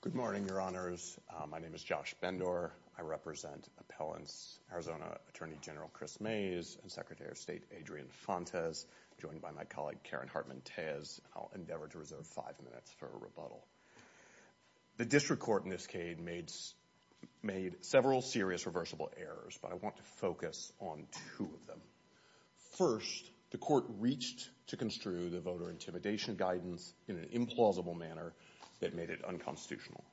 Good morning, your honors. My name is Josh Bendor. I represent Appellants Arizona Attorney General Chris Mays and Secretary of State Adrian Fontes, joined by my colleague Karen Hartman-Tayez. I'll endeavor to reserve five minutes for a rebuttal. The district court in this case made several serious reversible errors, but I want to focus on two of them. First, the court reached to construe the voter intimidation guidance in an implausible manner that made it unconstitutional.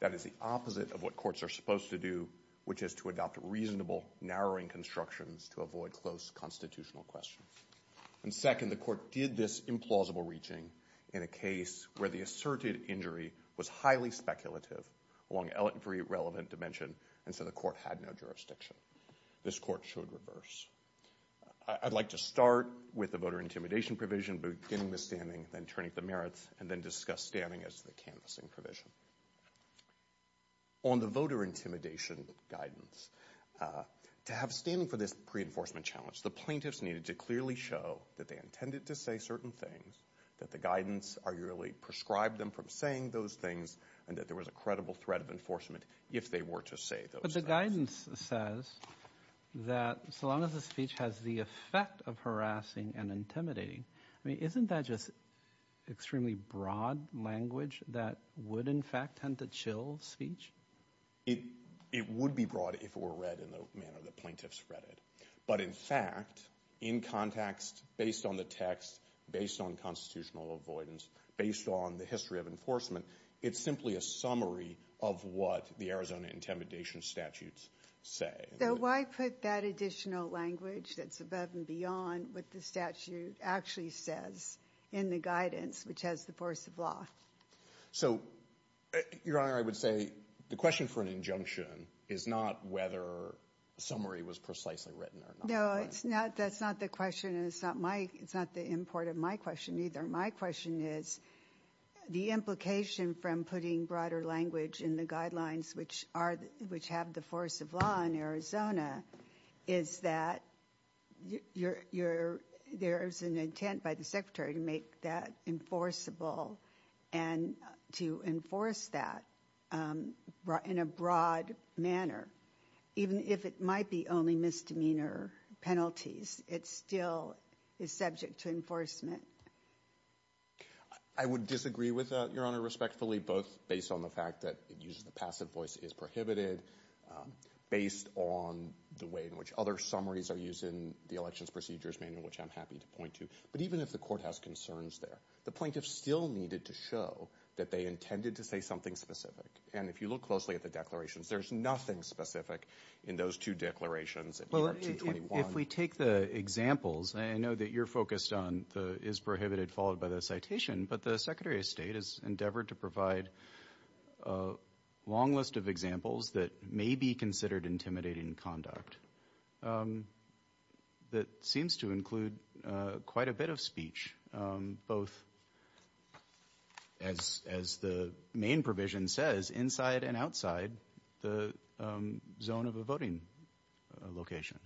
That is the opposite of what courts are supposed to do, which is to adopt reasonable, narrowing constructions to avoid close constitutional questions. And second, the court did this implausible reaching in a case where the asserted injury was highly speculative along every relevant dimension, and so the court had no jurisdiction. This court showed reverse. I'd like to start with the voter intimidation provision, beginning with standing, then turning to merits, and then discuss standing as the canvassing provision. On the voter intimidation guidance, to have standing for this pre-enforcement challenge, the plaintiffs needed to clearly show that they intended to say certain things, that the guidance arguably prescribed them from saying those things, and that there was a that so long as the speech has the effect of harassing and intimidating, I mean, isn't that just extremely broad language that would, in fact, tend to chill speech? It would be broad if it were read in the manner the plaintiffs read it. But in fact, in context, based on the text, based on constitutional avoidance, based on the history of enforcement, it's simply a summary of what the Arizona intimidation statutes say. So why put that additional language that's above and beyond what the statute actually says in the guidance, which has the force of law? So, Your Honor, I would say the question for an injunction is not whether a summary was precisely written or not. No, that's not the question, and it's not the import of my question either. My question is the implication from putting broader language in the guidelines, which have the force of law in Arizona, is that there's an intent by the Secretary to make that enforceable and to enforce that in a broad manner, even if it might be only misdemeanor penalties. It still is subject to enforcement. I would disagree with that, Your Honor, respectfully, both based on the fact that it uses the passive voice is prohibited, based on the way in which other summaries are used in the Elections Procedures Manual, which I'm happy to point to. But even if the Court has concerns there, the plaintiffs still needed to show that they intended to say something specific. And if you look closely at the declarations, there's nothing specific in those two declarations in ER-221. Well, if we take the examples, and I know that you're focused on the is prohibited followed by the citation, but the Secretary of State has endeavored to provide a long list of examples that may be considered intimidating conduct that seems to include quite a bit of speech, both as the main provision says, inside and outside the zone of a voting location.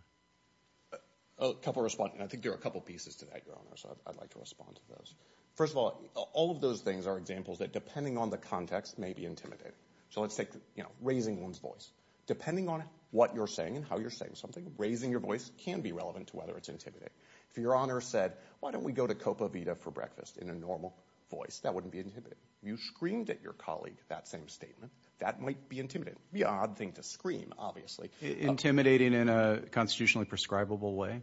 I think there are a couple of pieces to that, Your Honor, so I'd like to respond to those. First of all, all of those things are examples that, depending on the context, may be intimidating. So let's take, you know, raising one's voice. Depending on what you're saying and how you're saying something, raising your voice can be relevant to whether it's intimidating. If Your Honor said, why don't we go to Copa Vida for breakfast in a normal voice, that wouldn't be intimidating. If you screamed at your colleague that same statement, that might be intimidating. It would be an odd thing to scream, obviously. Intimidating in a constitutionally prescribable way?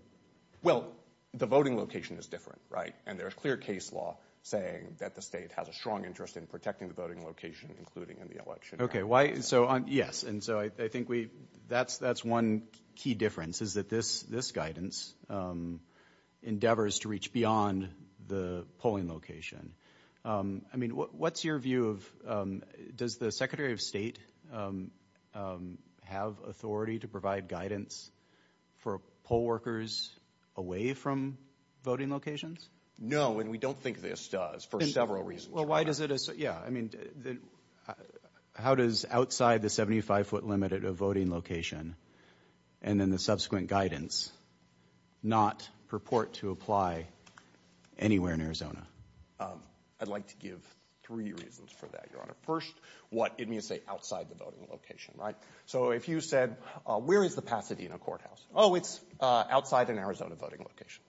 Well, the voting location is different, right? And there's clear case law saying that the state has a strong interest in protecting the voting location, including in the election. Okay, why, so, yes, and so I think we, that's one key difference is that this guidance endeavors to reach beyond the polling location. I mean, what's your view of, does the Secretary of State have authority to provide guidance for poll workers away from voting locations? No, and we don't think this does, for several reasons, Your Honor. Well, why does it, yeah, I mean, how does outside the 75-foot limit at a voting location and then the subsequent guidance not purport to apply anywhere in Arizona? I'd like to give three reasons for that, Your Honor. First, what it means to say outside the voting location, right? So if you said, where is the Pasadena Courthouse? Oh, it's outside an Arizona voting location.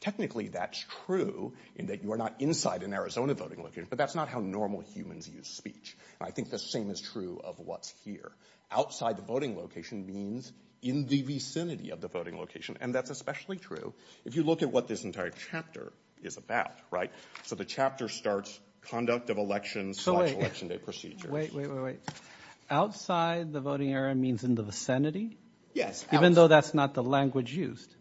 Technically, that's true in that you are not inside an Arizona voting location, but that's not how normal humans use speech. I think the same is true of what's here. Outside the voting location means in the vicinity of the voting location, and that's especially true if you look at what this entire chapter is about, right? So the chapter starts conduct of elections, launch election day procedures. Wait, wait, wait, wait. Outside the voting area means in the vicinity? Yes. Even though that's not the language used?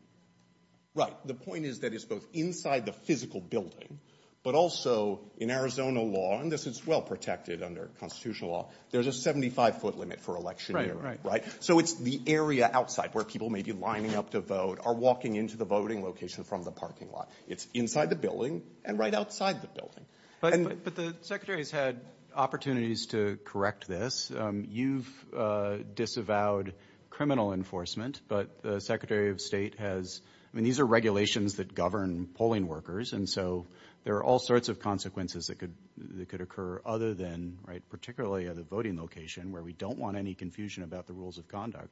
Right. The point is that it's both inside the physical building, but also in Arizona law, and this is well protected under constitutional law, there's a 75-foot limit for election year, right? So it's the area outside where people may be lining up to vote or walking into the voting location from the parking lot. It's inside the building and right outside the building. But the Secretary's had opportunities to correct this. You've disavowed criminal enforcement, but the Secretary of State has, I mean, these are regulations that govern polling workers, and so there are all sorts of consequences that could occur other than, right, particularly at a voting location where we don't want any confusion about the rules of conduct.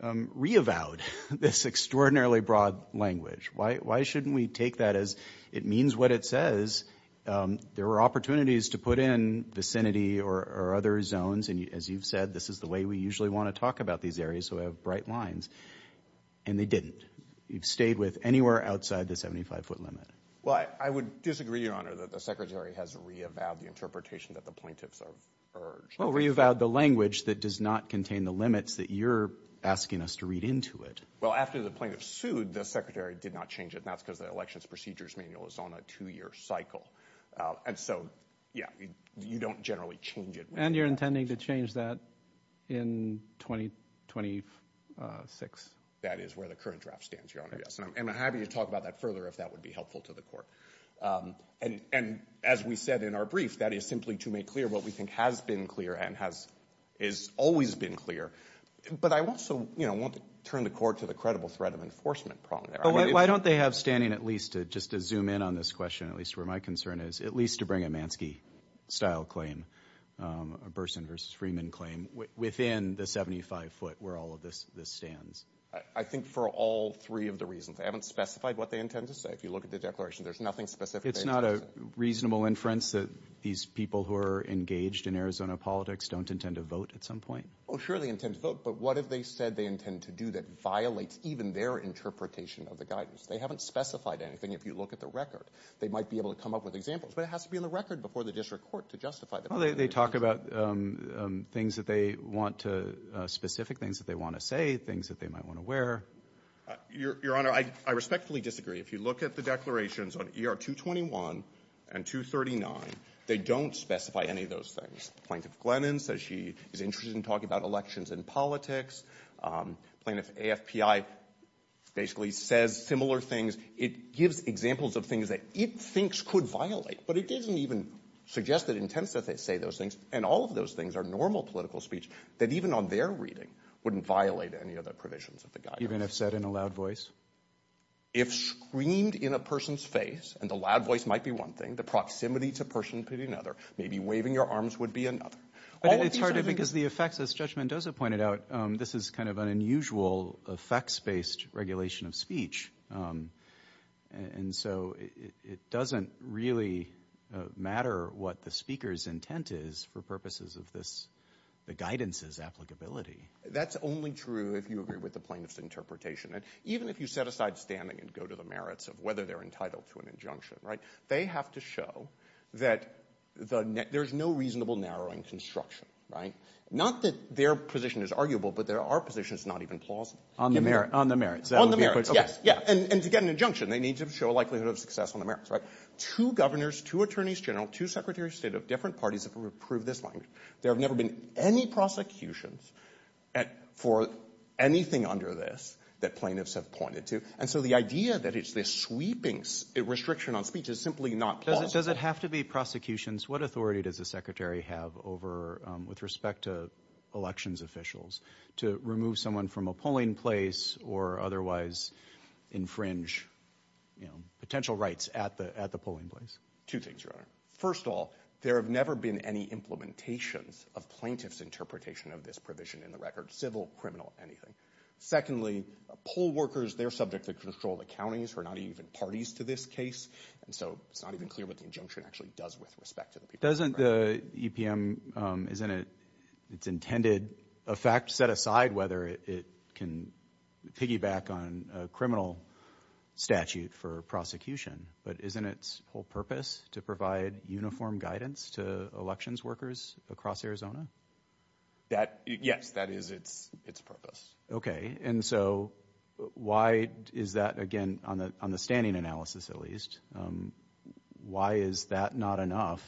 They reavowed this extraordinarily broad language. Why shouldn't we take that as it means what it says? There were opportunities to put in vicinity or other zones, and as you've said, this is the way we usually want to talk about these areas, so we have bright lines, and they didn't. You've stayed with anywhere outside the 75-foot limit. Well, I would disagree, Your Honor, that the Secretary has reavowed the interpretation that the plaintiffs have urged. Well, reavowed the language that does not contain the limits that you're asking us to read into it. Well, after the plaintiff sued, the Secretary did not change it, and that's because the Elections Procedures Manual is on a two-year cycle. And so, yeah, you don't generally change it. And you're intending to change that in 2026? That is where the current draft stands, Your Honor, yes, and I'm happy to talk about that further if that would be helpful to the Court. And as we said in our brief, that is simply to make clear what we think has been clear and has always been clear. But I also want to turn the Court to the credible threat of enforcement problem there. Why don't they have standing, at least, just to zoom in on this question, at least where my concern is, at least to bring a Manski-style claim, a Burson v. Freeman claim, within the 75-foot where all of this stands? I think for all three of the reasons. They haven't specified what they intend to say. If you look at the declaration, there's nothing specific they intend to say. So it's not a reasonable inference that these people who are engaged in Arizona politics don't intend to vote at some point? Oh, sure, they intend to vote. But what have they said they intend to do that violates even their interpretation of the guidance? They haven't specified anything. If you look at the record, they might be able to come up with examples. But it has to be in the record before the District Court to justify the fact that they're doing this. Well, they talk about things that they want to, specific things that they want to say, things that they might want to wear. Your Honor, I respectfully disagree. If you look at the declarations on ER-221 and 239, they don't specify any of those things. Plaintiff Glennon says she is interested in talking about elections and politics. Plaintiff AFPI basically says similar things. It gives examples of things that it thinks could violate, but it doesn't even suggest that it intends that they say those things. And all of those things are normal political speech that even on their reading wouldn't violate any of the provisions of the guidance. Even if said in a loud voice? If screamed in a person's face, and the loud voice might be one thing, the proximity to a person could be another. Maybe waving your arms would be another. It's harder because the effects, as Judge Mendoza pointed out, this is kind of an unusual effects-based regulation of speech. And so it doesn't really matter what the speaker's intent is for purposes of this, the guidance's applicability. That's only true if you agree with the plaintiff's interpretation. And even if you set aside standing and go to the merits of whether they're entitled to an injunction, they have to show that there's no reasonable narrowing construction. Not that their position is arguable, but there are positions not even plausible. On the merits. On the merits, yes. And to get an injunction, they need to show a likelihood of success on the merits, right? Two governors, two attorneys general, two secretaries of state of different parties have approved this language. There have never been any prosecutions for anything under this that plaintiffs have pointed to. And so the idea that it's this sweeping restriction on speech is simply not plausible. Does it have to be prosecutions? What authority does the secretary have over, with respect to elections officials, to remove someone from a polling place or otherwise infringe potential rights at the polling place? Two things, Your Honor. First of all, there have never been any implementations of plaintiff's interpretation of this provision in the record. Civil, criminal, anything. Secondly, poll workers, they're subject to control. The counties are not even parties to this case. And so it's not even clear what the injunction actually does with respect to the people. Doesn't the EPM, isn't it, it's intended, a fact set aside, whether it can piggyback on a criminal statute for prosecution, but isn't its whole purpose to provide uniform guidance to elections workers across Arizona? That, yes, that is its purpose. Okay. And so why is that, again, on the standing analysis at least, why is that not enough,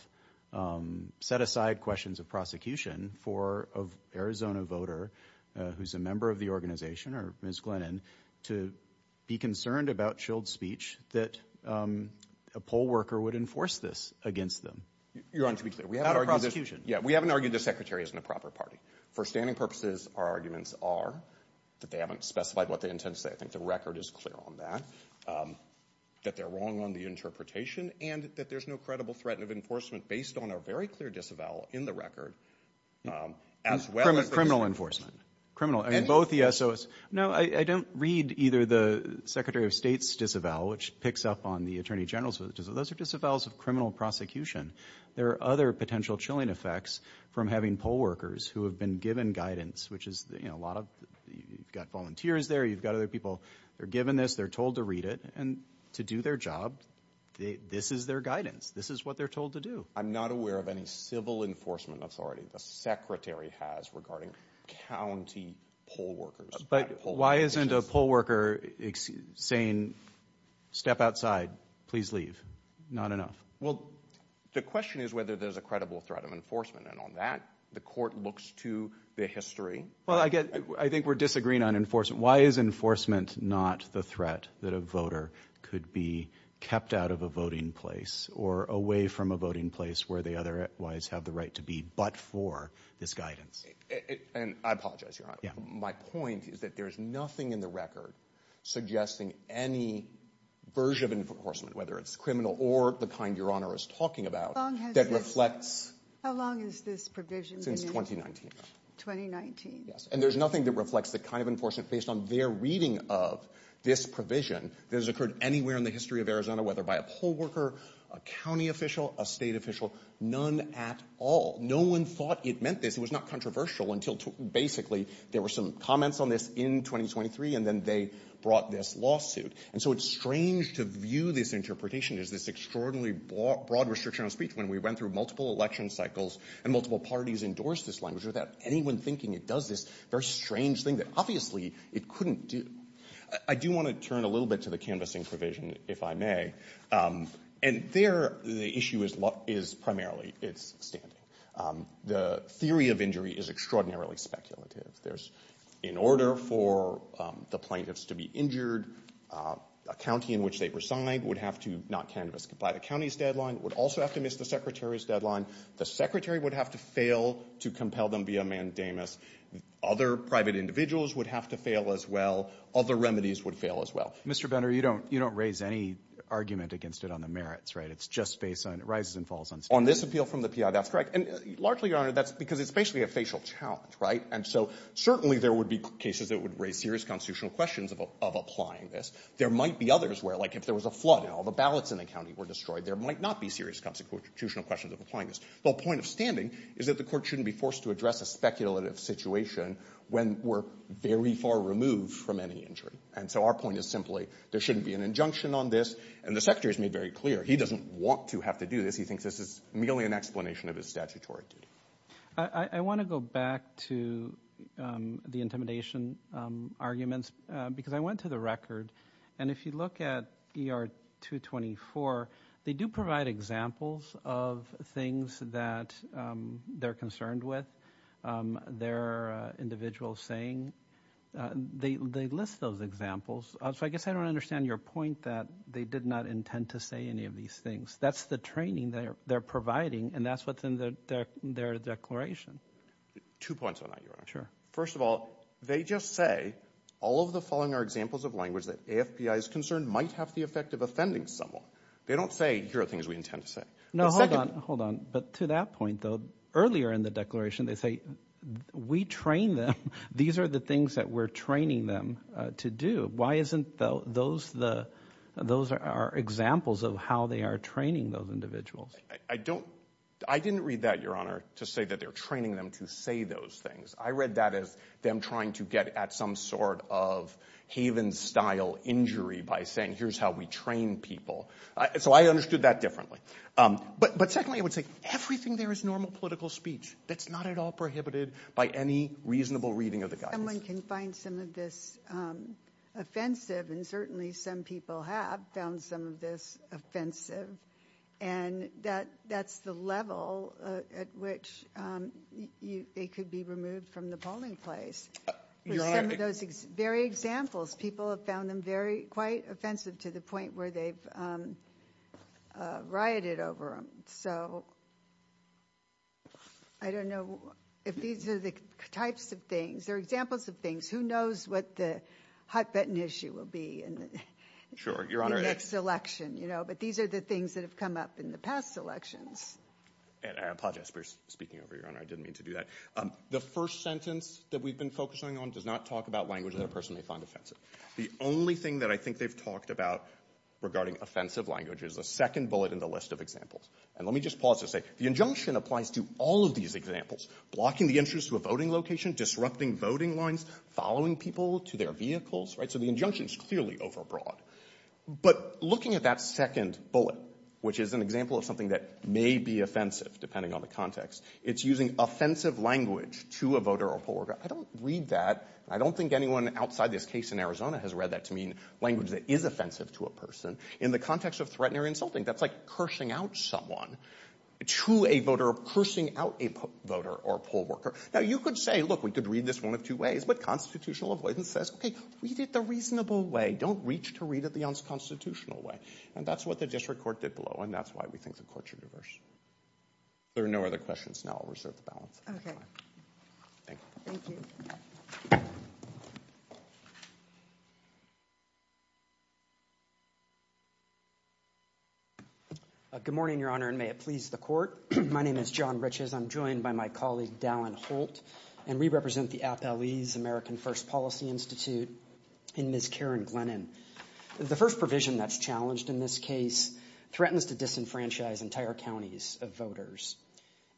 set aside questions of prosecution for an Arizona voter who's a member of the organization or Ms. Glennon, to be concerned about chilled speech that a poll worker would enforce this against them? Your Honor, to be clear, we haven't argued this. Yeah, we haven't argued the secretary isn't a proper party. For standing purposes, our arguments are that they haven't specified what they intend to say. I think the record is clear on that. That they're wrong on the interpretation, and that there's no credible threat of enforcement based on a very clear disavowal in the record, as well as the- Criminal enforcement. Both the S.O.S. No, I don't read either the secretary of state's disavowal, which picks up on the attorney general's disavowal. Those are disavowals of criminal prosecution. There are other potential chilling effects from having poll workers who have been given guidance, which is a lot of, you've got volunteers there, you've got other people, they're given this, they're told to read it, and to do their job, this is their guidance. This is what they're told to do. I'm not aware of any civil enforcement authority the secretary has regarding county poll workers. But why isn't a poll worker saying, step outside, please leave? Not enough. Well, the question is whether there's a credible threat of enforcement, and on that, the court looks to the history. Well, I think we're disagreeing on enforcement. Why is enforcement not the threat that a voter could be kept out of a voting place or away from a voting place where they otherwise have the right to be but for this guidance? And I apologize, Your Honor. My point is that there's nothing in the record suggesting any version of enforcement, whether it's criminal or the kind Your Honor is talking about, that reflects- How long has this provision been in? Since 2019. 2019. Yes, and there's nothing that reflects the kind of enforcement based on their reading of this provision that has occurred anywhere in the history of Arizona, whether by a poll worker, a county official, a state official, none at all. No one thought it meant this. It was not controversial until basically there were some comments on this in 2023, and then they brought this lawsuit. And so it's strange to view this interpretation as this extraordinarily broad restriction on speech when we went through multiple election cycles and multiple parties endorsed this language without anyone thinking it does this very strange thing that obviously it couldn't do. I do want to turn a little bit to the canvassing provision, if I may. And there the issue is primarily its standing. The theory of injury is extraordinarily speculative. In order for the plaintiffs to be injured, a county in which they reside would have to not canvass by the county's deadline, would also have to miss the secretary's deadline. The secretary would have to fail to compel them via mandamus. Other private individuals would have to fail as well. Other remedies would fail as well. Mr. Benner, you don't raise any argument against it on the merits, right? It's just based on rises and falls on standards. On this appeal from the PI, that's correct. And largely, Your Honor, that's because it's basically a facial challenge, right? And so certainly there would be cases that would raise serious constitutional questions of applying this. There might be others where, like if there was a flood and all the ballots in the county were destroyed, there might not be serious constitutional questions of applying this. The point of standing is that the court shouldn't be forced to address a speculative situation when we're very far removed from any injury. And so our point is simply there shouldn't be an injunction on this. And the secretary has made very clear he doesn't want to have to do this. He thinks this is merely an explanation of his statutory duty. I want to go back to the intimidation arguments because I went to the record. And if you look at ER-224, they do provide examples of things that they're concerned with, their individual saying. They list those examples. So I guess I don't understand your point that they did not intend to say any of these things. That's the training they're providing, and that's what's in their declaration. Two points on that, Your Honor. Sure. First of all, they just say all of the following are examples of language that AFPI is concerned might have the effect of offending someone. They don't say here are things we intend to say. No, hold on, hold on. But to that point, though, earlier in the declaration they say we train them. These are the things that we're training them to do. Why isn't those our examples of how they are training those individuals? I didn't read that, Your Honor, to say that they're training them to say those things. I read that as them trying to get at some sort of Haven-style injury by saying here's how we train people. So I understood that differently. But secondly, I would say everything there is normal political speech that's not at all prohibited by any reasonable reading of the guidance. Someone can find some of this offensive, and certainly some people have found some of this offensive, and that's the level at which they could be removed from the polling place. With some of those very examples, people have found them quite offensive to the point where they've rioted over them. So I don't know if these are the types of things. They're examples of things. Who knows what the hot-button issue will be in the next election? But these are the things that have come up in the past elections. I apologize for speaking over you, Your Honor. I didn't mean to do that. The first sentence that we've been focusing on does not talk about language that a person may find offensive. The only thing that I think they've talked about regarding offensive language is the second bullet in the list of examples. And let me just pause to say the injunction applies to all of these examples, blocking the entrance to a voting location, disrupting voting lines, following people to their vehicles. So the injunction is clearly overbroad. But looking at that second bullet, which is an example of something that may be offensive, depending on the context, it's using offensive language to a voter or poll worker. I don't read that. I don't think anyone outside this case in Arizona has read that to mean language that is offensive to a person. In the context of threatening or insulting, that's like cursing out someone to a voter, cursing out a voter or poll worker. Now, you could say, look, we could read this one of two ways. But constitutional avoidance says, okay, read it the reasonable way. Don't reach to read it the unconstitutional way. And that's what the district court did below, and that's why we think the courts are diverse. If there are no other questions, now I'll reserve the balance of my time. Okay. Thank you. Good morning, Your Honor, and may it please the Court. My name is John Riches. I'm joined by my colleague, Dallin Holt, and we represent the Appellee's American First Policy Institute, and Ms. Karen Glennon. The first provision that's challenged in this case threatens to disenfranchise entire counties of voters,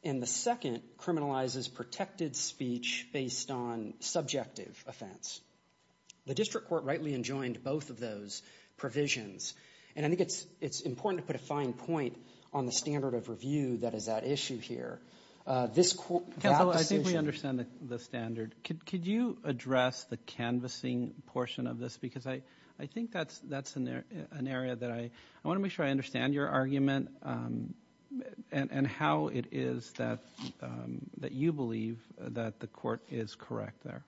and the second criminalizes protected speech based on subjective offense. The district court rightly enjoined both of those provisions, and I think it's important to put a fine point on the standard of review that is at issue here. This court, that decision ---- I think we understand the standard. Could you address the canvassing portion of this? Because I think that's an area that I want to make sure I understand your argument and how it is that you believe that the court is correct there.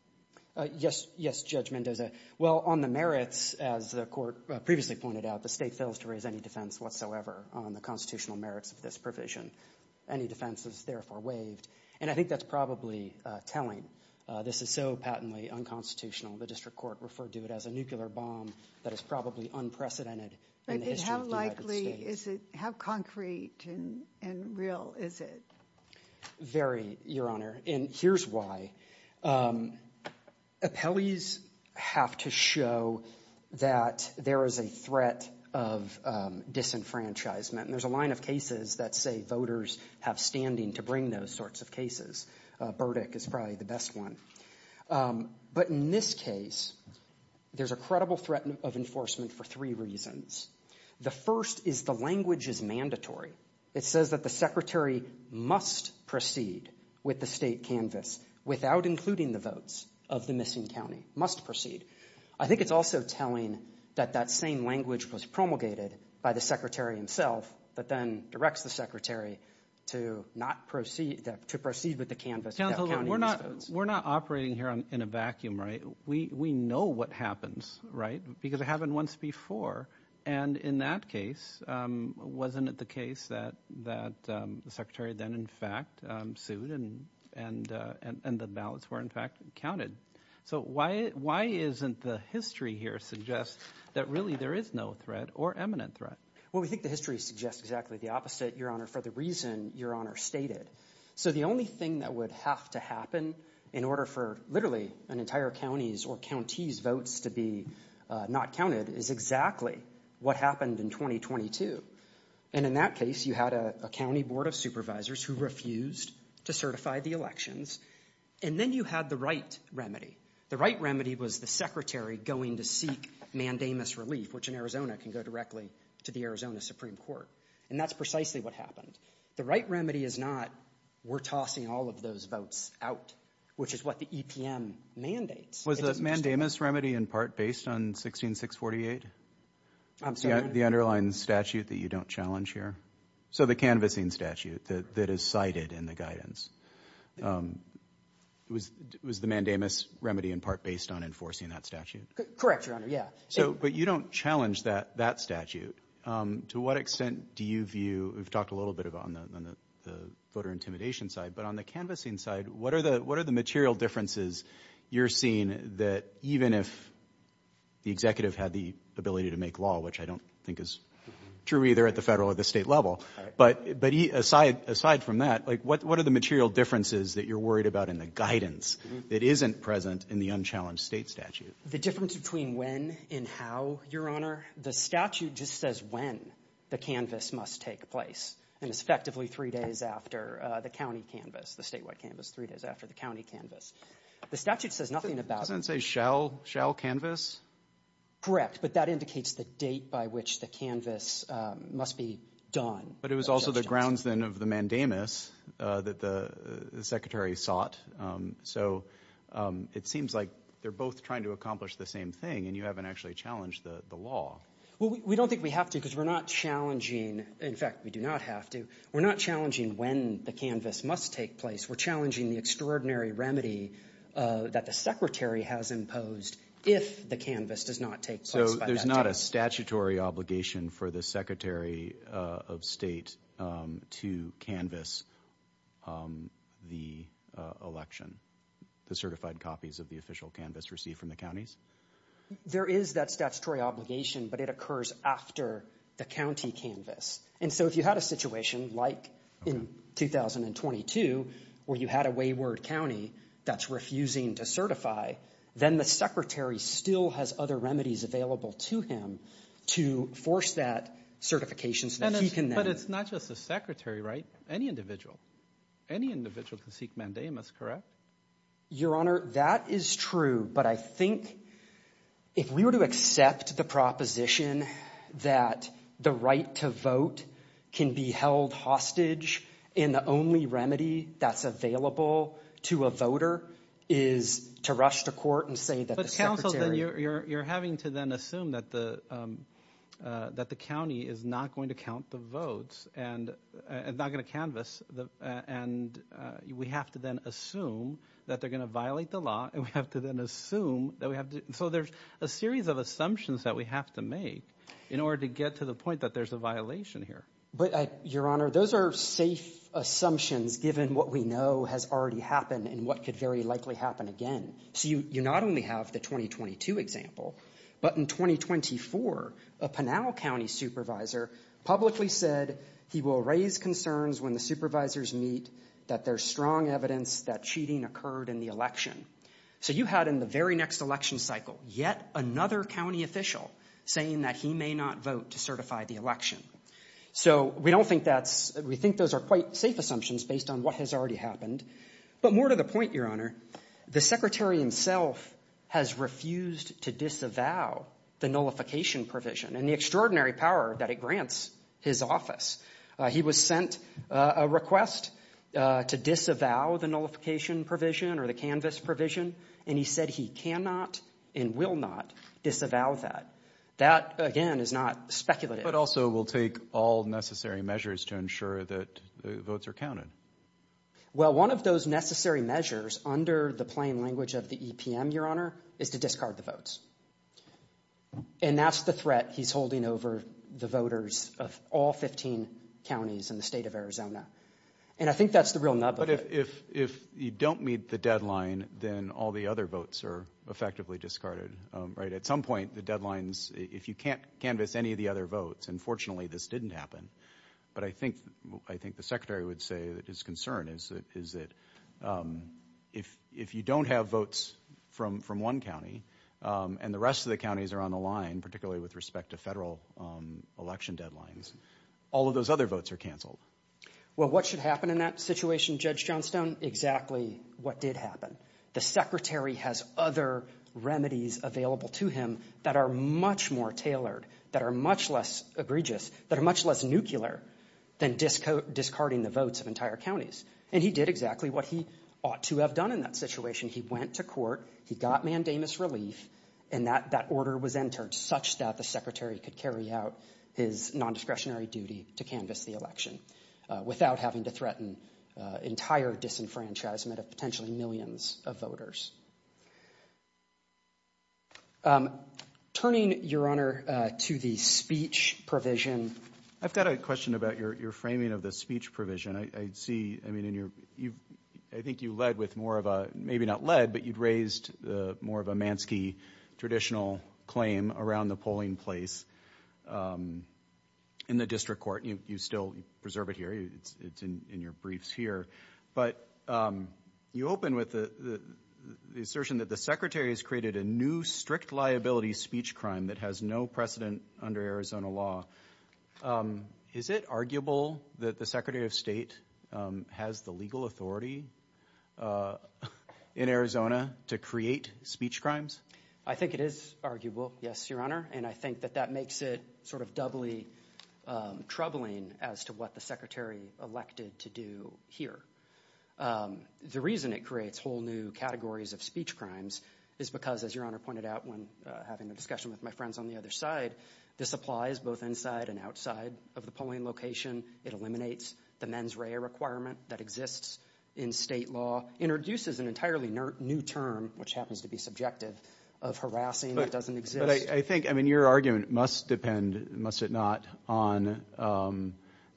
Yes. Yes, Judge Mendoza. Well, on the merits, as the Court previously pointed out, the State fails to raise any defense whatsoever on the constitutional merits of this provision. Any defense is therefore waived, and I think that's probably telling. This is so patently unconstitutional. The district court referred to it as a nuclear bomb that is probably unprecedented in the history of the United States. But how likely is it? How concrete and real is it? Very, Your Honor, and here's why. Appellees have to show that there is a threat of disenfranchisement, and there's a line of cases that say voters have standing to bring those sorts of cases. Burdick is probably the best one. But in this case, there's a credible threat of enforcement for three reasons. The first is the language is mandatory. It says that the Secretary must proceed with the State canvass without including the votes of the missing county, must proceed. I think it's also telling that that same language was promulgated by the Secretary himself, but then directs the Secretary to proceed with the canvass without counting the votes. Counsel, we're not operating here in a vacuum, right? We know what happens, right, because it happened once before. And in that case, wasn't it the case that the Secretary then, in fact, sued and the ballots were, in fact, counted? So why isn't the history here suggest that really there is no threat or eminent threat? Well, we think the history suggests exactly the opposite, Your Honor, for the reason Your Honor stated. So the only thing that would have to happen in order for literally an entire county's or county's votes to be not counted is exactly what happened in 2022. And in that case, you had a county board of supervisors who refused to certify the elections, and then you had the right remedy. The right remedy was the Secretary going to seek mandamus relief, which in Arizona can go directly to the Arizona Supreme Court. And that's precisely what happened. The right remedy is not we're tossing all of those votes out, which is what the EPM mandates. Was the mandamus remedy in part based on 16648? I'm sorry? The underlying statute that you don't challenge here? So the canvassing statute that is cited in the guidance, was the mandamus remedy in part based on enforcing that statute? Correct, Your Honor, yeah. But you don't challenge that statute. To what extent do you view, we've talked a little bit about it on the voter intimidation side, but on the canvassing side, what are the material differences you're seeing that even if the executive had the ability to make law, which I don't think is true either at the federal or the state level, but aside from that, what are the material differences that you're worried about in the guidance that isn't present in the unchallenged state statute? The difference between when and how, Your Honor? The statute just says when the canvass must take place, and it's effectively three days after the county canvass, the statewide canvass, three days after the county canvass. The statute says nothing about it. Doesn't it say shall canvass? Correct, but that indicates the date by which the canvass must be done. But it was also the grounds then of the mandamus that the secretary sought. So it seems like they're both trying to accomplish the same thing, and you haven't actually challenged the law. Well, we don't think we have to because we're not challenging. In fact, we do not have to. We're not challenging when the canvass must take place. We're challenging the extraordinary remedy that the secretary has imposed if the canvass does not take place by that date. So there's not a statutory obligation for the secretary of state to canvass the election, the certified copies of the official canvass received from the counties? There is that statutory obligation, but it occurs after the county canvass. And so if you had a situation like in 2022 where you had a wayward county that's refusing to certify, then the secretary still has other remedies available to him to force that certification so that he can then. But it's not just the secretary, right? Any individual. Any individual can seek mandamus, correct? Your Honor, that is true, but I think if we were to accept the proposition that the right to vote can be held hostage and the only remedy that's available to a voter is to rush to court and say that the secretary. But counsel, you're having to then assume that the county is not going to count the votes and is not going to canvass, and we have to then assume that they're going to violate the law and we have to then assume that we have to. So there's a series of assumptions that we have to make in order to get to the point that there's a violation here. But, Your Honor, those are safe assumptions given what we know has already happened and what could very likely happen again. So you not only have the 2022 example, but in 2024 a Pinal County supervisor publicly said he will raise concerns when the supervisors meet that there's strong evidence that cheating occurred in the election. So you had in the very next election cycle yet another county official saying that he may not vote to certify the election. So we think those are quite safe assumptions based on what has already happened. But more to the point, Your Honor, the secretary himself has refused to disavow the nullification provision and the extraordinary power that it grants his office. He was sent a request to disavow the nullification provision or the canvass provision, and he said he cannot and will not disavow that. That, again, is not speculative. But also will take all necessary measures to ensure that the votes are counted. Well, one of those necessary measures under the plain language of the EPM, Your Honor, is to discard the votes. And that's the threat he's holding over the voters of all 15 counties in the state of Arizona. And I think that's the real nub of it. But if you don't meet the deadline, then all the other votes are effectively discarded, right? At some point, the deadlines, if you can't canvass any of the other votes, and fortunately this didn't happen, but I think the secretary would say that his concern is that if you don't have votes from one county, and the rest of the counties are on the line, particularly with respect to federal election deadlines, all of those other votes are canceled. Well, what should happen in that situation, Judge Johnstone? Exactly what did happen. The secretary has other remedies available to him that are much more tailored, that are much less egregious, that are much less nuclear, than discarding the votes of entire counties. And he did exactly what he ought to have done in that situation. He went to court, he got mandamus relief, and that order was entered such that the secretary could carry out his nondiscretionary duty to canvass the election without having to threaten entire disenfranchisement of potentially millions of voters. Turning, Your Honor, to the speech provision. I've got a question about your framing of the speech provision. I see, I mean, I think you led with more of a, maybe not led, but you'd raised more of a Mansky traditional claim around the polling place in the district court. You still preserve it here. It's in your briefs here. But you open with the assertion that the secretary has created a new strict liability speech crime that has no precedent under Arizona law. Is it arguable that the secretary of state has the legal authority in Arizona to create speech crimes? I think it is arguable, yes, Your Honor. And I think that that makes it sort of doubly troubling as to what the secretary elected to do here. The reason it creates whole new categories of speech crimes is because, as Your Honor pointed out when having a discussion with my friends on the other side, this applies both inside and outside of the polling location. It eliminates the mens rea requirement that exists in state law, introduces an entirely new term, which happens to be subjective, of harassing that doesn't exist. But I think, I mean, your argument must depend, must it not, on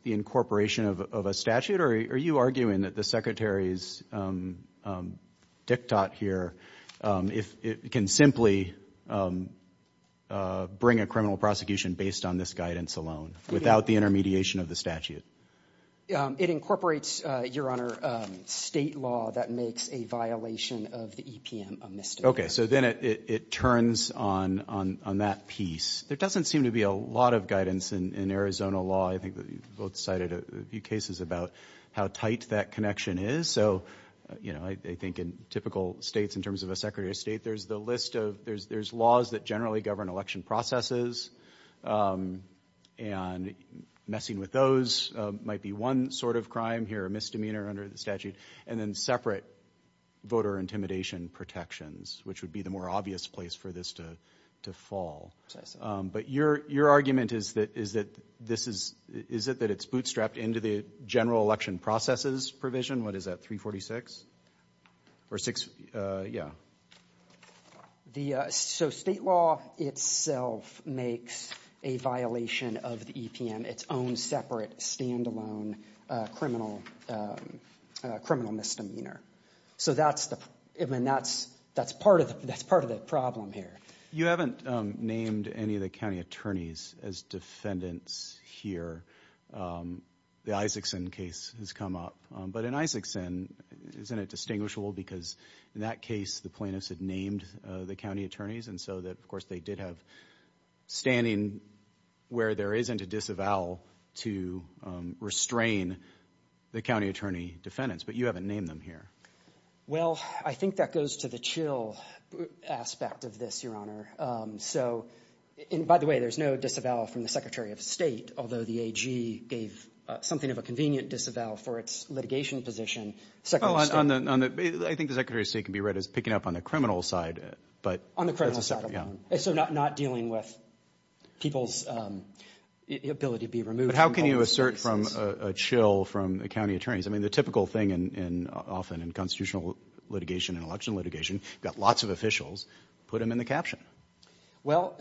the incorporation of a statute? Are you arguing that the secretary's diktat here can simply bring a criminal prosecution based on this guidance alone without the intermediation of the statute? It incorporates, Your Honor, state law that makes a violation of the EPM a misdemeanor. Okay. So then it turns on that piece. There doesn't seem to be a lot of guidance in Arizona law. I think that you both cited a few cases about how tight that connection is. So, you know, I think in typical states in terms of a secretary of state, there's the list of there's laws that generally govern election processes. And messing with those might be one sort of crime here, a misdemeanor under the statute, and then separate voter intimidation protections, which would be the more obvious place for this to fall. But your argument is that this is, is it that it's bootstrapped into the general election processes provision? What is that, 346? Or six, yeah. So state law itself makes a violation of the EPM its own separate, stand-alone criminal misdemeanor. So that's the, I mean, that's part of the problem here. You haven't named any of the county attorneys as defendants here. The Isakson case has come up. But in Isakson, isn't it distinguishable because in that case the plaintiffs had named the county attorneys and so that, of course, they did have standing where there isn't a disavowal to restrain the county attorney defendants. But you haven't named them here. Well, I think that goes to the chill aspect of this, Your Honor. So, and by the way, there's no disavowal from the Secretary of State, although the AG gave something of a convenient disavowal for its litigation position. I think the Secretary of State can be read as picking up on the criminal side. On the criminal side. So not dealing with people's ability to be removed. But how can you assert from a chill from the county attorneys? I mean, the typical thing often in constitutional litigation and election litigation, you've got lots of officials. Put them in the caption. Well,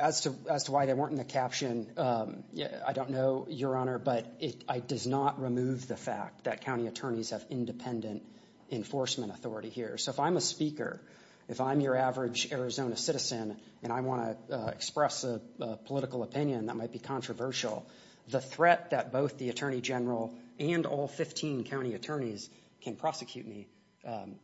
as to why they weren't in the caption, I don't know, Your Honor, but it does not remove the fact that county attorneys have independent enforcement authority here. So if I'm a speaker, if I'm your average Arizona citizen, and I want to express a political opinion that might be controversial, the threat that both the attorney general and all 15 county attorneys can prosecute me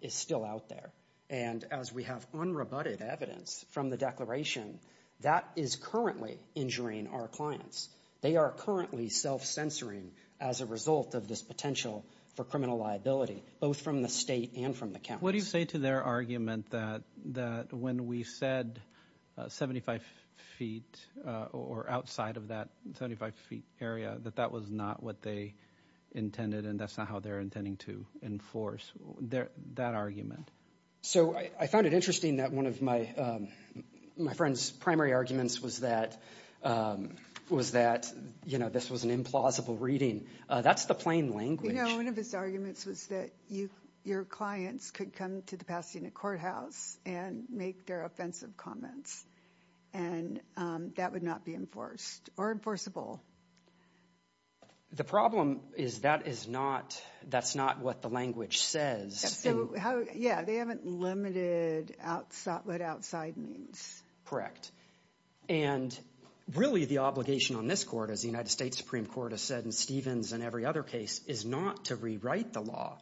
is still out there. And as we have unrebutted evidence from the declaration, that is currently injuring our clients. They are currently self-censoring as a result of this potential for criminal liability, both from the state and from the county. What do you say to their argument that when we said 75 feet or outside of that 75 feet area, that that was not what they intended and that's not how they're intending to enforce that argument? So I found it interesting that one of my friend's primary arguments was that this was an implausible reading. That's the plain language. No, one of his arguments was that your clients could come to the Pasadena courthouse and make their offensive comments. And that would not be enforced or enforceable. The problem is that is not that's not what the language says. So, yeah, they haven't limited what outside means. Correct. And really the obligation on this court, as the United States Supreme Court has said, and Stevens and every other case is not to rewrite the law.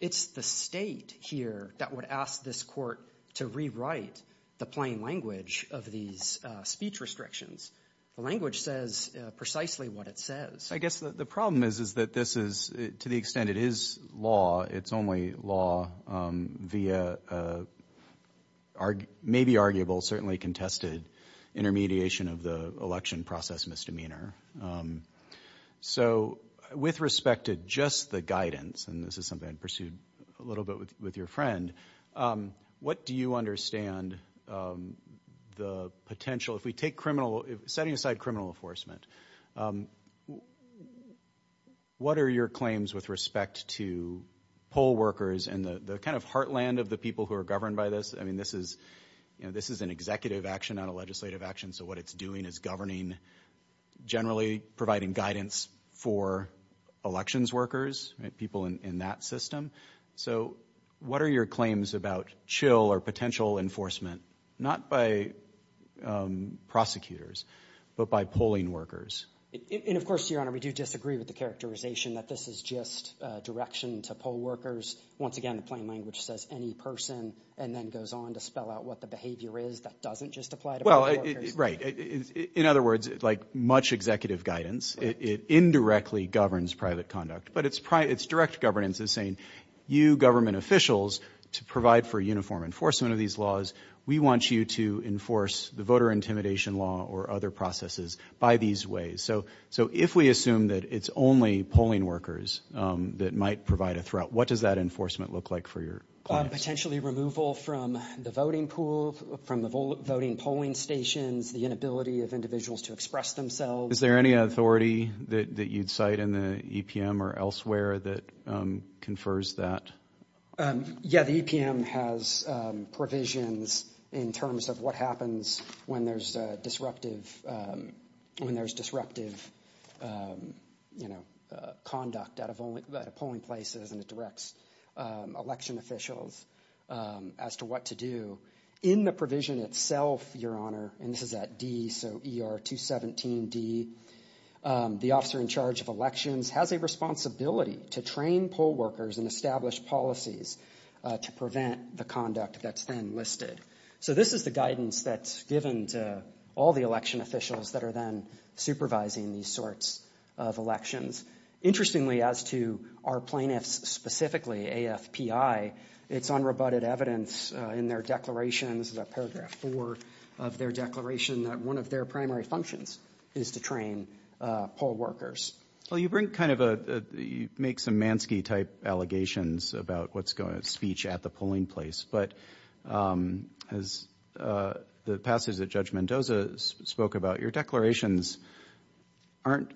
It's the state here that would ask this court to rewrite the plain language of these speech restrictions. The language says precisely what it says. I guess the problem is, is that this is to the extent it is law. It's only law via maybe arguable, certainly contested, intermediation of the election process misdemeanor. So with respect to just the guidance, and this is something I pursued a little bit with your friend, what do you understand the potential, if we take criminal, setting aside criminal enforcement, what are your claims with respect to poll workers and the kind of heartland of the people who are governed by this? I mean, this is this is an executive action, not a legislative action. So what it's doing is governing, generally providing guidance for elections workers, people in that system. So what are your claims about chill or potential enforcement, not by prosecutors, but by polling workers? And, of course, Your Honor, we do disagree with the characterization that this is just direction to poll workers. Once again, the plain language says any person and then goes on to spell out what the behavior is that doesn't just apply to poll workers. Well, right. In other words, like much executive guidance, it indirectly governs private conduct. But it's private. It's direct governance is saying you government officials to provide for uniform enforcement of these laws. We want you to enforce the voter intimidation law or other processes by these ways. So so if we assume that it's only polling workers that might provide a threat, what does that enforcement look like for you? Potentially removal from the voting pool, from the voting polling stations, the inability of individuals to express themselves. Is there any authority that you'd cite in the E.P.M. or elsewhere that confers that? Yeah, the E.P.M. has provisions in terms of what happens when there's disruptive when there's disruptive, you know, conduct out of polling places. And it directs election officials as to what to do in the provision itself. Your Honor. And this is at D. So E.R. 217 D. The officer in charge of elections has a responsibility to train poll workers and establish policies to prevent the conduct that's been listed. So this is the guidance that's given to all the election officials that are then supervising these sorts of elections. Interestingly, as to our plaintiffs specifically, AFPI, it's unrebutted evidence in their declarations, a paragraph four of their declaration that one of their primary functions is to train poll workers. Well, you bring kind of a you make some Mansky type allegations about what's going to speech at the polling place. But as the passage that Judge Mendoza spoke about, your declarations aren't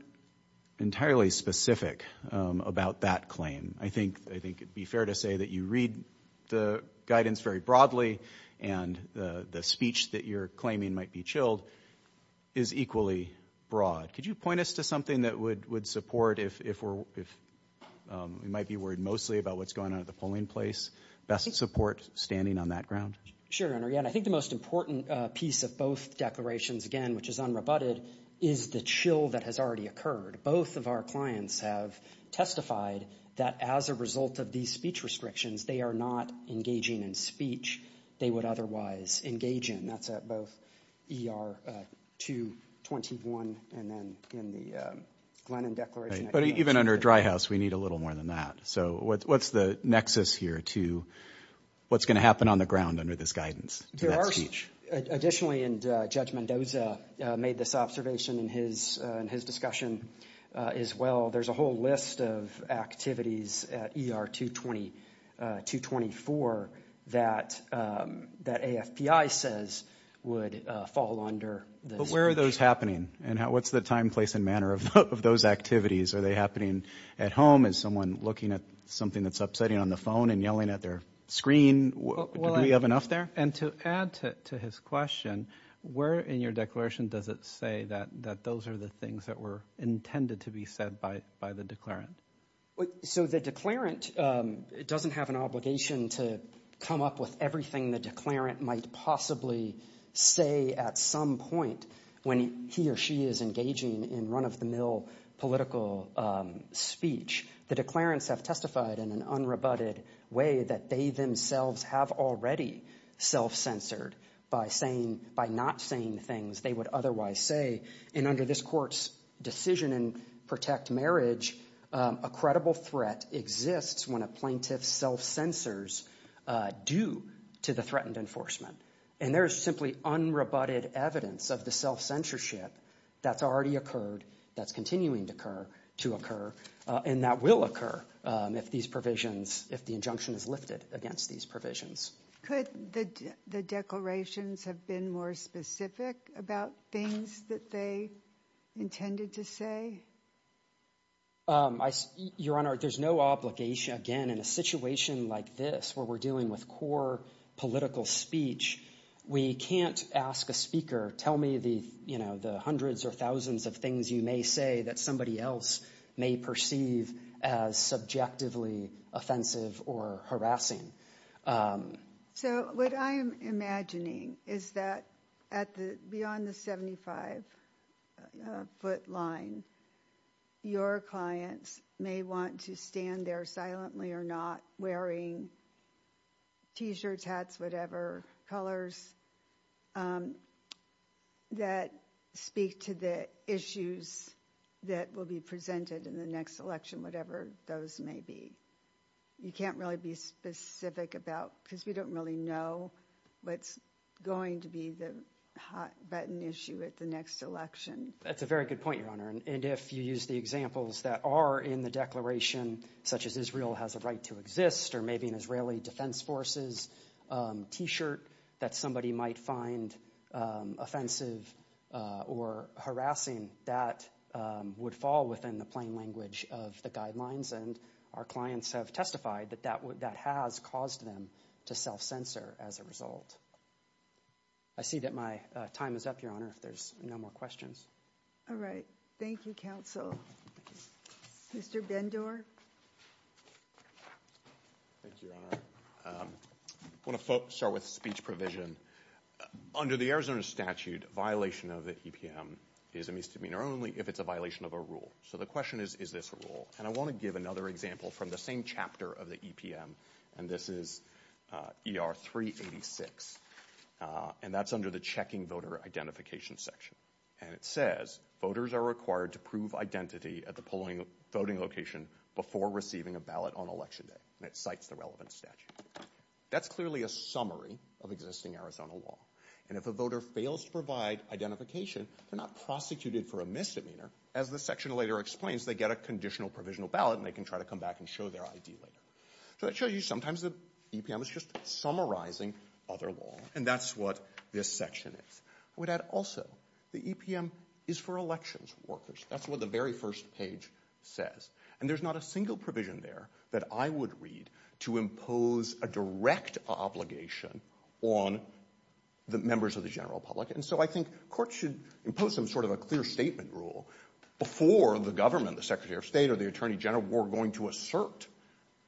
entirely specific about that claim. I think I think it'd be fair to say that you read the guidance very broadly. And the speech that you're claiming might be chilled is equally broad. Could you point us to something that would would support if we're if we might be worried mostly about what's going on at the polling place? Best support standing on that ground. Sure. And again, I think the most important piece of both declarations, again, which is unrebutted, is the chill that has already occurred. Both of our clients have testified that as a result of these speech restrictions, they are not engaging in speech. They would otherwise engage in that's both E.R. to 21. And then in the Glennon declaration. But even under dry house, we need a little more than that. So what's the nexus here to what's going to happen on the ground under this guidance? Additionally, and Judge Mendoza made this observation in his in his discussion as well. There's a whole list of activities at E.R. to 20 to 24 that that AFP I says would fall under. But where are those happening and what's the time, place and manner of those activities? Are they happening at home? Is someone looking at something that's upsetting on the phone and yelling at their screen? We have enough there. And to add to his question, we're in your declaration. Does it say that that those are the things that were intended to be said by by the declarant? So the declarant doesn't have an obligation to come up with everything the declarant might possibly say at some point. When he or she is engaging in run of the mill political speech, the declarants have testified in an unrebutted way that they themselves have already self censored by saying by not saying things they would otherwise say. And under this court's decision and protect marriage, a credible threat exists when a plaintiff self censors due to the threatened enforcement. And there is simply unrebutted evidence of the self censorship that's already occurred, that's continuing to occur, to occur. And that will occur if these provisions if the injunction is lifted against these provisions. Could the declarations have been more specific about things that they intended to say? Your Honor, there's no obligation again in a situation like this where we're dealing with core political speech. We can't ask a speaker, tell me the, you know, the hundreds or thousands of things you may say that somebody else may perceive as subjectively offensive or harassing. So what I'm imagining is that beyond the 75 foot line, your clients may want to stand there silently or not wearing t-shirts, hats, whatever, colors that speak to the issues that will be presented in the next election, whatever those may be. You can't really be specific about because we don't really know what's going to be the hot button issue at the next election. That's a very good point, Your Honor. And if you use the examples that are in the declaration, such as Israel has a right to exist, or maybe an Israeli Defense Forces t-shirt that somebody might find offensive or harassing, that would fall within the plain language of the guidelines. And our clients have testified that that has caused them to self censor as a result. I see that my time is up, Your Honor, if there's no more questions. All right. Thank you, Counsel. Mr. Bendor. Thank you, Your Honor. I want to start with speech provision. Under the Arizona statute, violation of the EPM is a misdemeanor only if it's a violation of a rule. So the question is, is this a rule? And I want to give another example from the same chapter of the EPM, and this is ER 386. And that's under the checking voter identification section. And it says, voters are required to prove identity at the polling voting location before receiving a ballot on election day. And it cites the relevant statute. That's clearly a summary of existing Arizona law. And if a voter fails to provide identification, they're not prosecuted for a misdemeanor. As the section later explains, they get a conditional provisional ballot, and they can try to come back and show their ID later. So that shows you sometimes the EPM is just summarizing other law. And that's what this section is. I would add also the EPM is for elections workers. That's what the very first page says. And there's not a single provision there that I would read to impose a direct obligation on the members of the general public. And so I think courts should impose some sort of a clear statement rule before the government, the secretary of state, or the attorney general, who are going to assert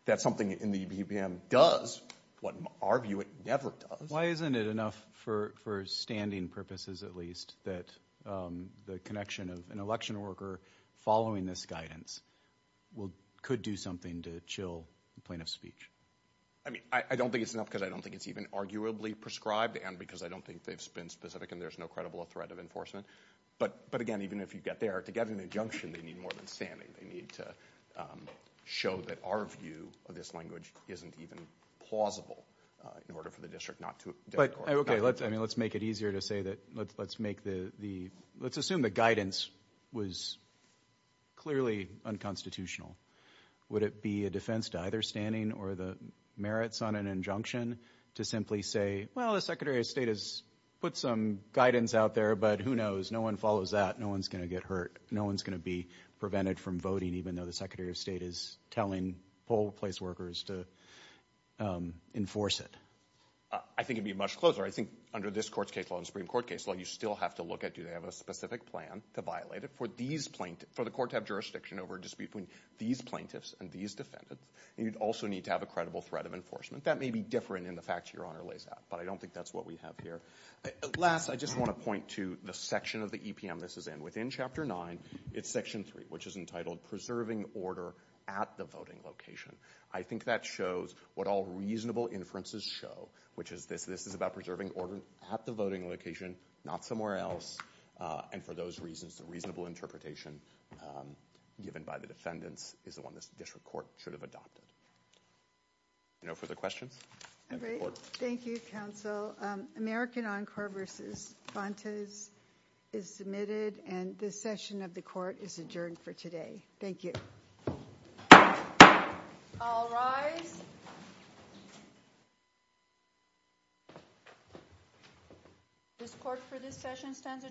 that something in the EPM does what, in our view, it never does. Why isn't it enough for standing purposes, at least, that the connection of an election worker following this guidance could do something to chill the plaintiff's speech? I mean, I don't think it's enough because I don't think it's even arguably prescribed, and because I don't think they've been specific and there's no credible threat of enforcement. But again, even if you get there, to get an injunction, they need more than standing. They need to show that our view of this language isn't even plausible in order for the district not to do it. Okay, let's make it easier to say that. Let's assume the guidance was clearly unconstitutional. Would it be a defense to either standing or the merits on an injunction to simply say, well, the secretary of state has put some guidance out there, but who knows? No one follows that. No one's going to get hurt. No one's going to be prevented from voting, even though the secretary of state is telling poll place workers to enforce it. I think it would be much closer. I think under this Court's case law and Supreme Court case law, you still have to look at do they have a specific plan to violate it. For the court to have jurisdiction over a dispute between these plaintiffs and these defendants, you'd also need to have a credible threat of enforcement. That may be different in the facts Your Honor lays out, but I don't think that's what we have here. Last, I just want to point to the section of the EPM this is in. Within Chapter 9, it's Section 3, which is entitled Preserving Order at the Voting Location. I think that shows what all reasonable inferences show, which is this. This is about preserving order at the voting location, not somewhere else, and for those reasons, the reasonable interpretation given by the defendants is the one this district court should have adopted. No further questions? All right. Thank you, Counsel. American Encore v. Fontes is submitted, and this session of the court is adjourned for today. Thank you. All rise. This court for this session stands adjourned.